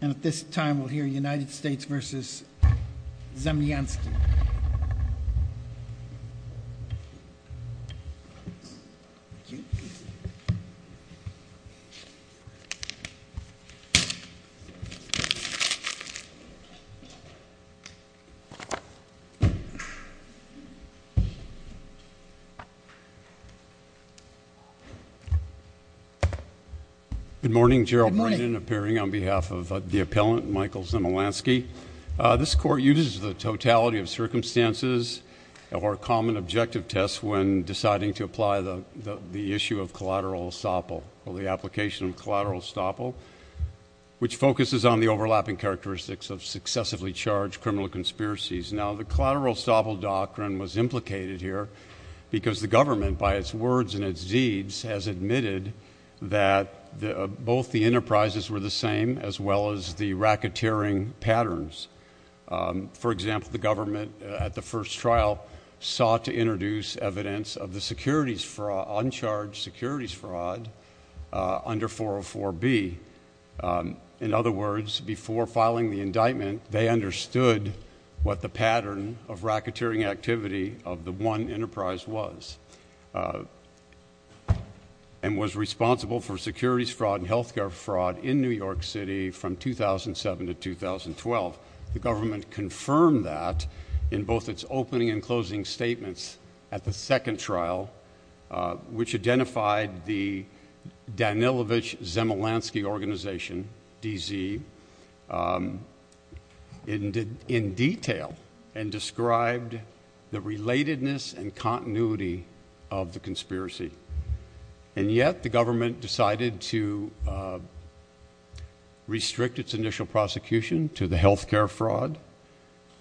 And at this time, we'll hear United States v. Zemlyansky. Good morning, Gerald Brennan, appearing on behalf of the appellant, Michael Zemlyansky. This court uses the totality of circumstances or common objective tests when deciding to apply the issue of collateral estoppel, or the application of collateral estoppel, which focuses on the overlapping characteristics of successively charged criminal conspiracies. Now the collateral estoppel doctrine was implicated here because the government, by its words and its deeds, has admitted that both the enterprises were the same, as well as the racketeering patterns. For example, the government at the first trial sought to introduce evidence of the securities fraud, uncharged securities fraud, under 404B. In other words, before filing the indictment, they understood what the pattern of racketeering activity of the one enterprise was, and was responsible for securities fraud and healthcare fraud in New York City from 2007 to 2012. The government confirmed that in both its opening and closing statements at the second trial, which identified the Danilovich-Zemlyansky organization, DZ, in detail, and described the relatedness and continuity of the conspiracy. And yet, the government decided to restrict its initial prosecution to the healthcare fraud,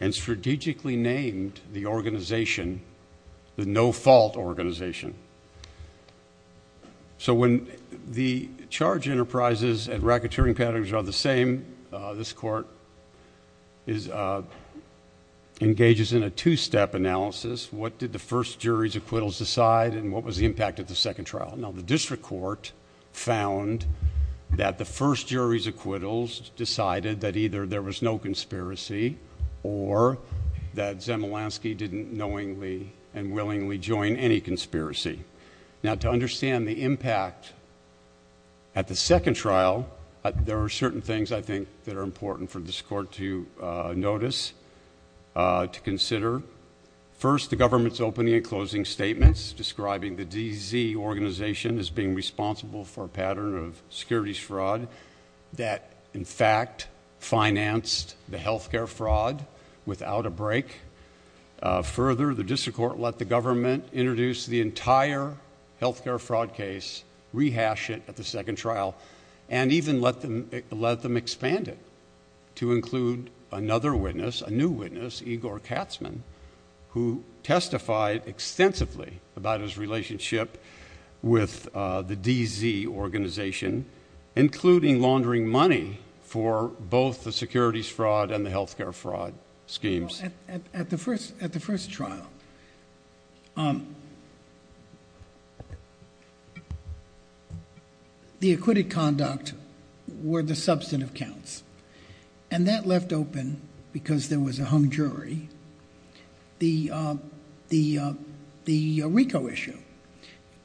and strategically named the organization the No Fault Organization. So when the charge enterprises and racketeering patterns are the same, this court engages in a two-step analysis. What did the first jury's acquittals decide, and what was the impact at the second trial? Now, the district court found that the first jury's acquittals decided that either there was no conspiracy, or that Zemlyansky didn't knowingly and willingly join any conspiracy. Now, to understand the impact at the second trial, there are certain things, I think, that are important for this court to notice, to consider. First, the government's opening and closing statements describing the DZ organization as being responsible for a pattern of securities fraud that, in fact, financed the healthcare fraud without a break. Further, the district court let the government introduce the entire healthcare fraud case, rehash it at the second trial, and even let them expand it to include another witness, a new witness, Igor Katzman, who testified extensively about his relationship with the DZ organization, including laundering money for both the securities fraud and the healthcare fraud schemes. Well, at the first trial, the acquitted conduct were the substantive counts, and that left open, because there was a hung jury, the RICO issue.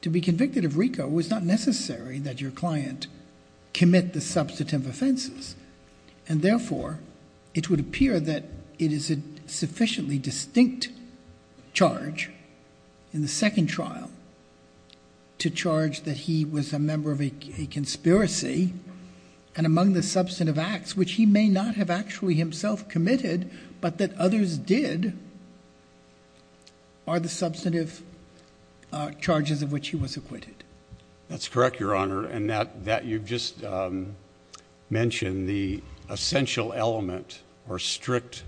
To be convicted of RICO, it was not necessary that your client commit the substantive offenses, and therefore, it would appear that it is a sufficiently distinct charge in the second trial to charge that he was a member of a conspiracy, and among the substantive acts, which he may not have actually himself committed, but that others did, are the substantive charges of which he was acquitted. That's correct, Your Honor, and that you've just mentioned the essential element or strict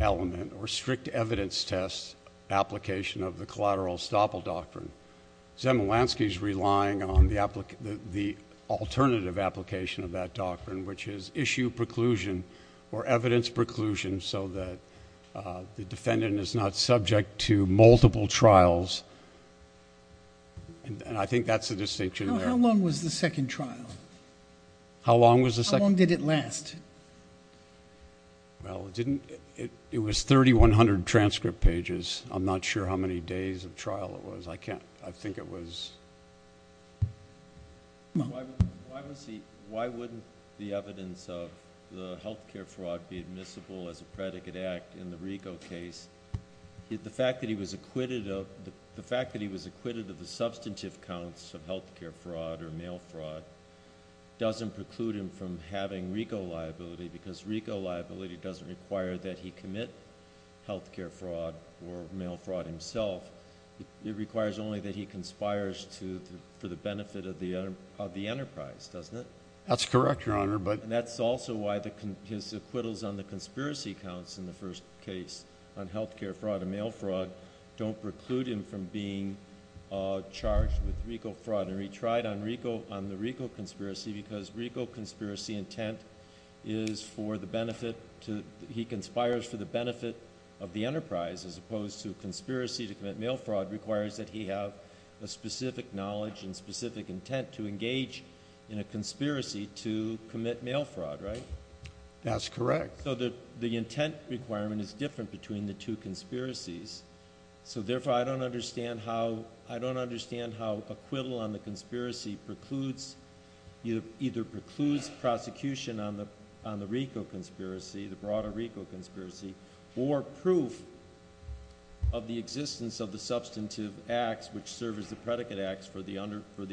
element or strict evidence test application of the collateral estoppel doctrine. Zemulanski's relying on the alternative application of that doctrine, which is issue preclusion or evidence preclusion so that the defendant is not subject to multiple trials, and I think that's the distinction there. How long was the second trial? How long was the second? How long did it last? Well, it was 3,100 transcript pages. I'm not sure how many days of trial it was. I think it was... Why wouldn't the evidence of the healthcare fraud be admissible as a predicate act in the RICO case? The fact that he was acquitted of the substantive counts of healthcare fraud or mail fraud doesn't preclude him from having RICO liability because RICO liability doesn't require that he commit healthcare fraud or mail fraud himself. It requires only that he conspires for the benefit of the enterprise, doesn't it? That's correct, Your Honor, but... The fact that he was acquitted of the substantive counts of healthcare fraud or mail fraud don't preclude him from being charged with RICO fraud and retried on the RICO conspiracy because RICO conspiracy intent is for the benefit... he conspires for the benefit of the enterprise as opposed to conspiracy to commit mail fraud requires that he have a specific knowledge and specific intent to engage in a conspiracy to commit mail fraud, right? That's correct. The intent requirement is different between the two conspiracies, so therefore I don't understand how acquittal on the conspiracy precludes... either precludes prosecution on the RICO conspiracy, the broader RICO conspiracy, or proof of the existence of the substantive acts which serve as the predicate acts for the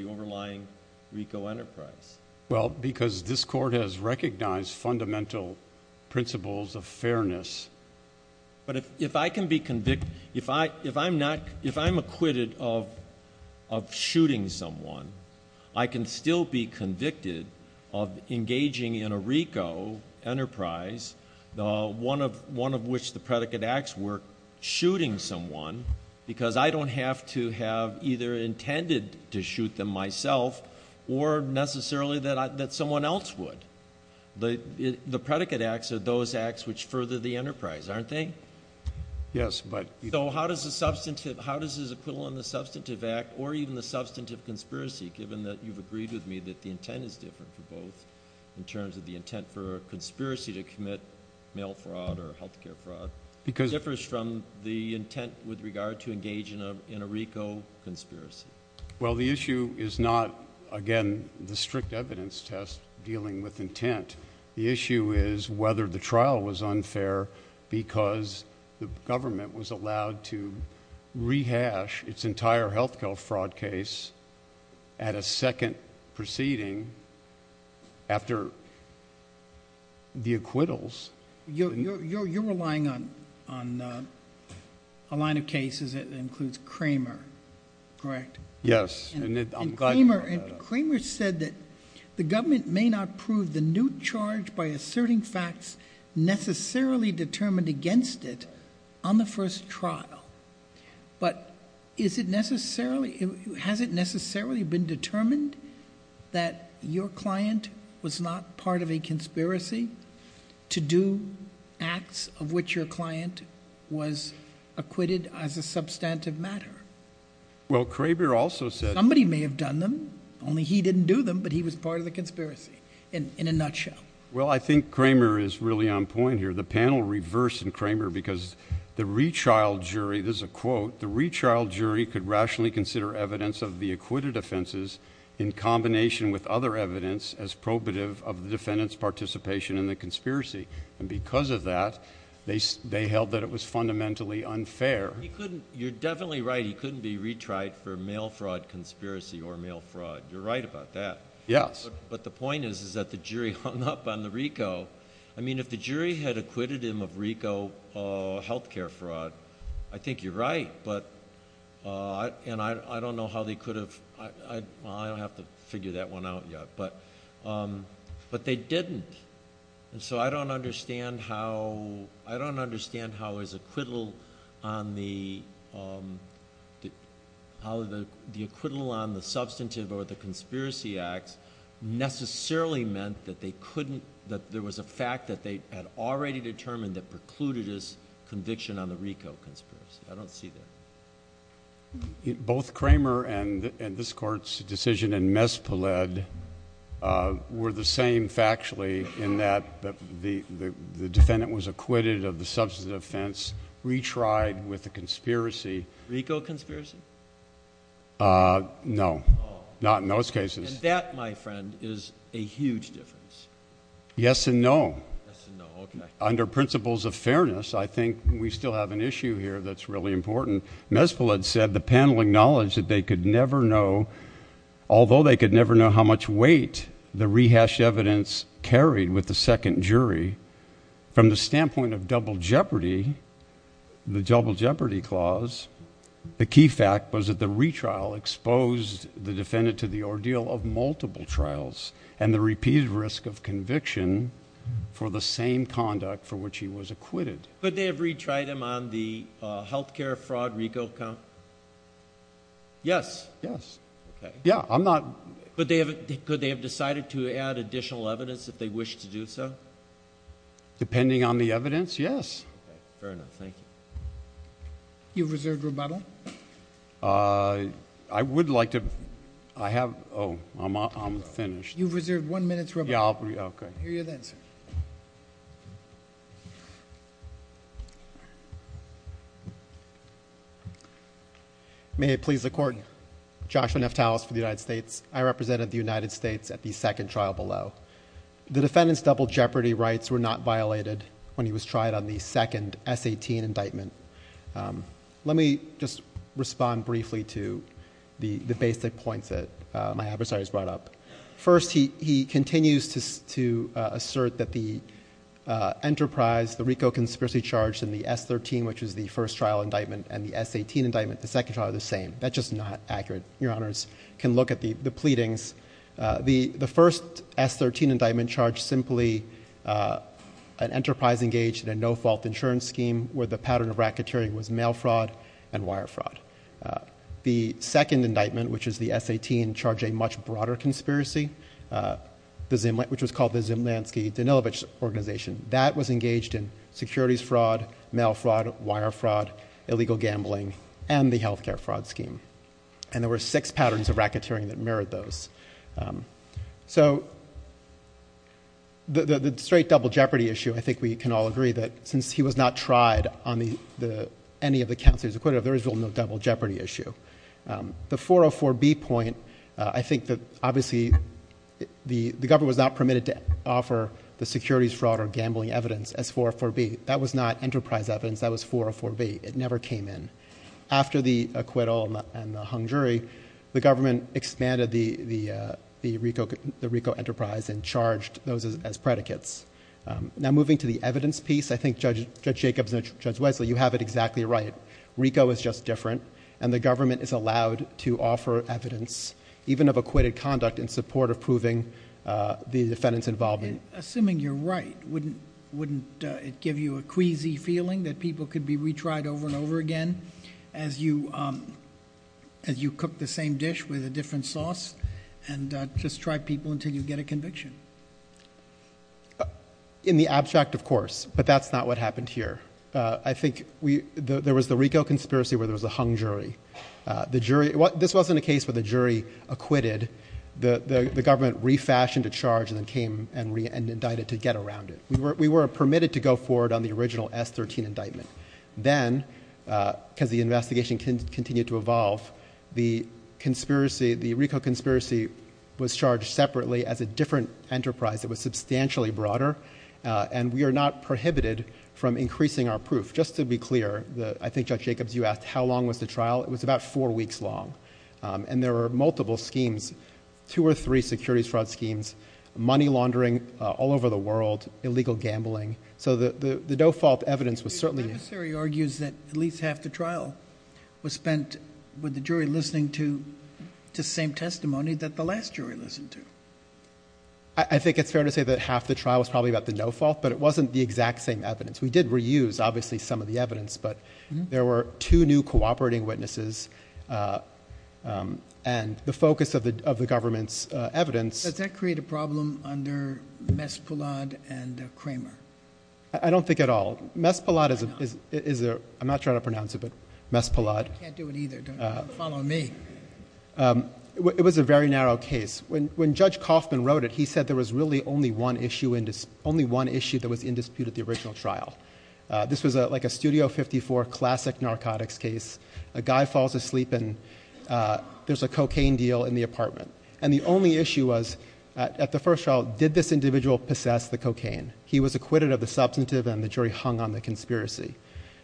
overlying RICO enterprise. Well, because this Court has recognized fundamental principles of fairness. But if I can be convicted... if I'm acquitted of shooting someone, I can still be convicted of engaging in a RICO enterprise, one of which the predicate acts were shooting someone, because I don't have to have either intended to shoot them myself or necessarily that someone else would. The predicate acts are those acts which further the enterprise, aren't they? Yes, but... So how does this acquittal on the substantive act or even the substantive conspiracy, given that you've agreed with me that the intent is different for both in terms of the intent for a conspiracy to commit mail fraud or health care fraud... Because... With regard to engage in a RICO conspiracy. Well, the issue is not, again, the strict evidence test dealing with intent. The issue is whether the trial was unfair because the government was allowed to rehash its entire health care fraud case at a second proceeding after the acquittals. You're relying on a line of cases that includes Cramer, correct? Yes. And I'm glad you brought that up. And Cramer said that the government may not prove the new charge by asserting facts necessarily determined against it on the first trial, but is it necessarily... has it necessarily been determined that your client was not part of a conspiracy to do acts of which your client was acquitted as a substantive matter? Well, Cramer also said... Somebody may have done them, only he didn't do them, but he was part of the conspiracy in a nutshell. Well, I think Cramer is really on point here. The panel reversed in Cramer because the rechild jury... this is a quote... the in combination with other evidence as probative of the defendant's participation in the conspiracy. And because of that, they held that it was fundamentally unfair. You're definitely right. He couldn't be retried for mail fraud conspiracy or mail fraud. You're right about that. Yes. But the point is that the jury hung up on the RICO. I mean, if the jury had acquitted him of RICO health care fraud, I think you're right. But... and I don't know how they could have... well, I don't have to figure that one out yet. But they didn't. And so, I don't understand how his acquittal on the... the acquittal on the substantive or the conspiracy acts necessarily meant that they couldn't... that there was a fact that they had already determined that precluded his conviction on the RICO conspiracy. I don't see that. Both Kramer and this Court's decision in Mespoled were the same factually in that the defendant was acquitted of the substantive offense, retried with the conspiracy... RICO conspiracy? No. Not in those cases. And that, my friend, is a huge difference. Yes and no. Yes and no. Okay. And I think we still have an issue here that's really important. Mespoled said the panel acknowledged that they could never know... although they could never know how much weight the rehashed evidence carried with the second jury, from the standpoint of double jeopardy, the double jeopardy clause, the key fact was that the retrial exposed the defendant to the ordeal of multiple trials and the repeated risk of conviction for the same conduct for which he was acquitted. Could they have retried him on the health care fraud RICO account? Yes. Yes. Okay. Yeah. I'm not... Could they have decided to add additional evidence if they wish to do so? Depending on the evidence, yes. Okay. Fair enough. Thank you. You've reserved rebuttal? I would like to... I have... oh, I'm finished. You've reserved one minute's rebuttal. Yeah, I'll... okay. I'll hear you then, sir. Thank you. Thank you. Thank you. Thank you. May it please the Court, Joshua Neftalos for the United States. I represented the United States at the second trial below. The defendant's double jeopardy rights were not violated when he was tried on the second S18 indictment. Let me just respond briefly to the basic points that my adversaries brought up. First, he continues to assert that the enterprise, the RICO conspiracy charge and the S13, which was the first trial indictment, and the S18 indictment, the second trial, are the same. That's just not accurate. Your Honors can look at the pleadings. The first S13 indictment charged simply an enterprise engaged in a no-fault insurance scheme where the pattern of racketeering was mail fraud and wire fraud. The second indictment, which is the S18, charged a much broader conspiracy, which was called the Zimlansky-Danilovich organization. That was engaged in securities fraud, mail fraud, wire fraud, illegal gambling, and the health care fraud scheme. And there were six patterns of racketeering that mirrored those. So the straight double jeopardy issue, I think we can all agree that since he was not tried on any of the counts that he was acquitted of, there is no double jeopardy issue. The 404B point, I think that obviously the government was not permitted to offer the securities fraud or gambling evidence as 404B. That was not enterprise evidence. That was 404B. It never came in. After the acquittal and the hung jury, the government expanded the RICO enterprise and charged those as predicates. Now moving to the evidence piece, I think Judge Jacobs and Judge Wesley, you have it exactly right. RICO is just different, and the government is allowed to offer evidence even of acquitted conduct in support of proving the defendant's involvement. Assuming you're right, wouldn't it give you a queasy feeling that people could be retried over and over again as you cook the same dish with a different sauce and just try people until you get a conviction? In the abstract, of course, but that's not what happened here. I think there was the RICO conspiracy where there was a hung jury. This wasn't a case where the jury acquitted. The government refashioned a charge and then came and indicted to get around it. We were permitted to go forward on the original S13 indictment. Then because the investigation continued to evolve, the RICO conspiracy was charged separately as a different enterprise that was substantially broader, and we are not prohibited from increasing our proof. Just to be clear, I think, Judge Jacobs, you asked how long was the trial. It was about four weeks long. There were multiple schemes, two or three securities fraud schemes, money laundering all over the world, illegal gambling. The default evidence was certainly... The adversary argues that at least half the trial was spent with the jury listening to the same testimony that the last jury listened to. I think it's fair to say that half the trial was probably about the no-fault, but it wasn't the exact same evidence. We did reuse, obviously, some of the evidence, but there were two new cooperating witnesses and the focus of the government's evidence... Does that create a problem under Mespalad and Kramer? I don't think at all. Mespalad is a... I'm not sure how to pronounce it, but Mespalad. You can't do it either. Don't follow me. It was a very narrow case. When Judge Kaufman wrote it, he said there was really only one issue that was in dispute at the original trial. This was like a Studio 54 classic narcotics case. A guy falls asleep and there's a cocaine deal in the apartment. The only issue was, at the first trial, did this individual possess the cocaine? He was acquitted of the substantive and the jury hung on the conspiracy.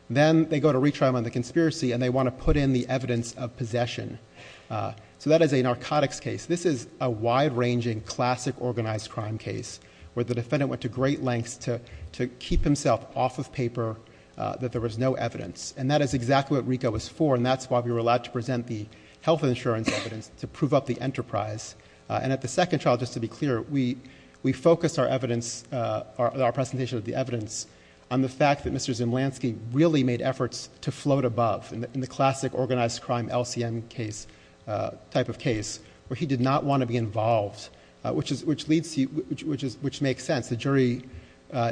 Then they go to retrial on the conspiracy and they want to put in the evidence of possession. That is a narcotics case. This is a wide-ranging, classic organized crime case where the defendant went to great lengths to keep himself off of paper that there was no evidence. That is exactly what RICO was for and that's why we were allowed to present the health insurance evidence to prove up the enterprise. At the second trial, just to be clear, we focused our presentation of the evidence on the fact that Mr. Zemlansky really made efforts to float above in the classic organized crime LCM type of case where he did not want to be involved, which makes sense. The jury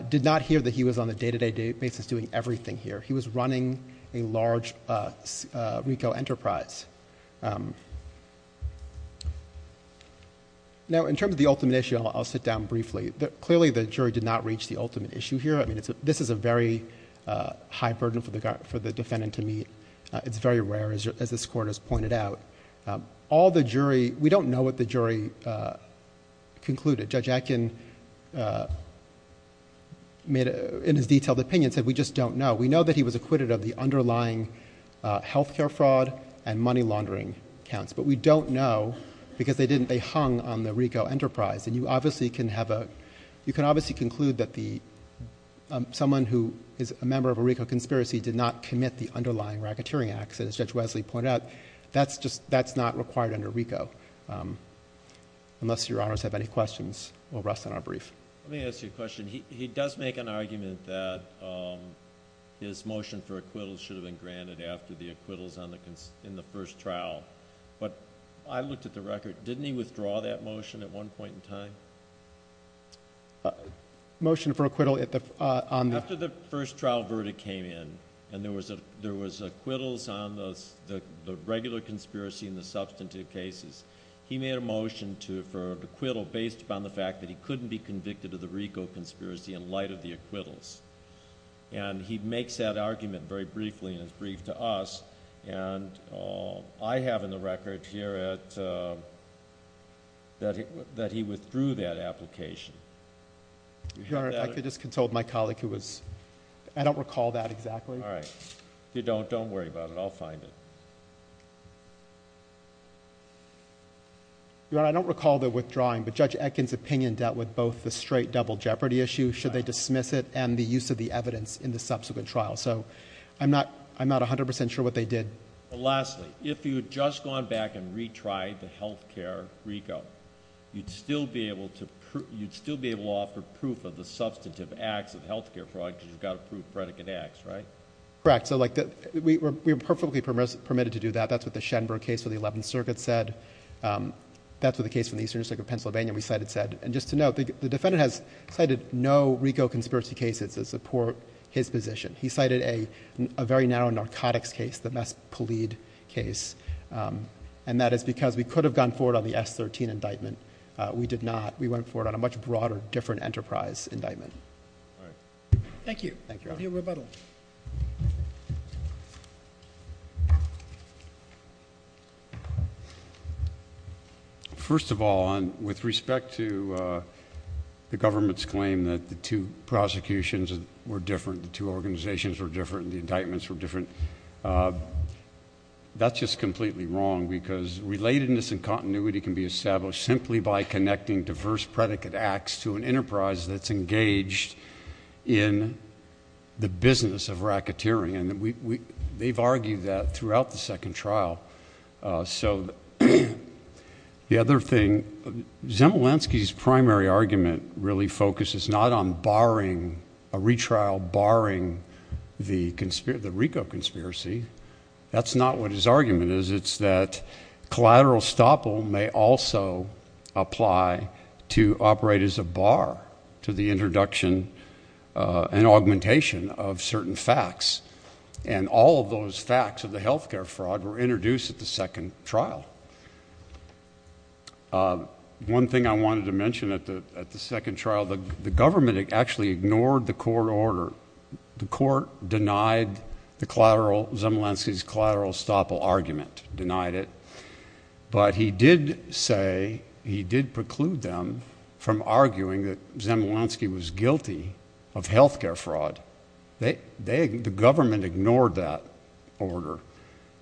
did not hear that he was on a day-to-day basis doing everything here. He was running a large RICO enterprise. In terms of the ultimate issue, I'll sit down briefly. Clearly the jury did not reach the ultimate issue here. This is a very high burden for the defendant to meet. It's very rare, as this Court has pointed out. All the jury... we don't know what the jury concluded. Judge Atkin, in his detailed opinion, said we just don't know. We know that he was acquitted of the underlying healthcare fraud and money laundering counts, but we don't know because they hung on the RICO enterprise. You can obviously conclude that someone who is a member of a RICO conspiracy did not commit the underlying racketeering acts, as Judge Wesley pointed out. That's not required under RICO, unless Your Honors have any questions. We'll rest on our brief. Let me ask you a question. He does make an argument that his motion for acquittal should have been granted after the acquittals in the first trial, but I looked at the record. Didn't he withdraw that motion at one point in time? Motion for acquittal... After the first trial verdict came in and there was acquittals on the regular conspiracy and the substantive cases, he made a motion for acquittal based upon the fact that he couldn't be convicted of the RICO conspiracy in light of the acquittals. He makes that argument very briefly in his brief to us. I have in the record here that he withdrew that application. Your Honor, if I could just console my colleague who was... I don't recall that exactly. All right. If you don't, don't worry about it. I'll find it. Your Honor, I don't recall the withdrawing, but Judge Etkin's opinion dealt with both the straight double jeopardy issue, should they dismiss it, and the use of the evidence in the subsequent trial. I'm not 100% sure what they did. Lastly, if you had just gone back and retried the health care RICO, you'd still be able to offer proof of the substantive acts of health care fraud because you've got to prove predicate acts, right? Correct. We were perfectly permitted to do that. That's what the Schenberg case for the Eleventh Circuit said. That's what the case for the Eastern District of Pennsylvania we cited said. Just to note, the defendant has cited no RICO conspiracy cases that support his position. He cited a very narrow narcotics case, the Mespolide case, and that is because we could have gone forward on the S13 indictment. We did not. We went forward on a much broader, different enterprise indictment. Thank you. Thank you, Your Honor. We'll hear rebuttal. First of all, with respect to the government's claim that the two prosecutions were different, the two organizations were different, the indictments were different, that's just completely wrong because relatedness and continuity can be established simply by connecting diverse predicate acts to an enterprise that's engaged in the business of racketeering. They've argued that throughout the second trial. So, the other thing, Zemelinsky's primary argument really focuses not on barring a retrial barring the RICO conspiracy. That's not what his argument is. It's that collateral estoppel may also apply to operate as a bar to the introduction and augmentation of certain facts. And all of those facts of the health care fraud were introduced at the second trial. One thing I wanted to mention at the second trial, the government actually ignored the court order. The court denied the collateral, Zemelinsky's collateral estoppel argument, denied it. But he did say, he did preclude them from arguing that Zemelinsky was guilty of health care fraud. The government ignored that order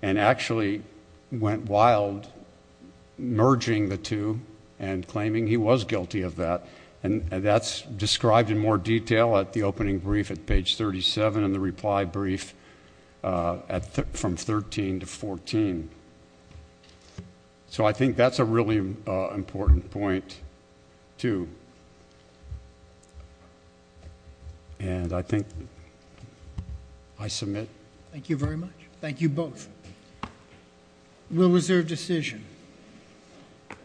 and actually went wild merging the two and claiming he was guilty of that. And that's described in more detail at the opening brief at page 37 in the reply brief from 13 to 14. So I think that's a really important point, too. And I think I submit. Thank you very much. Thank you both. We'll reserve decision.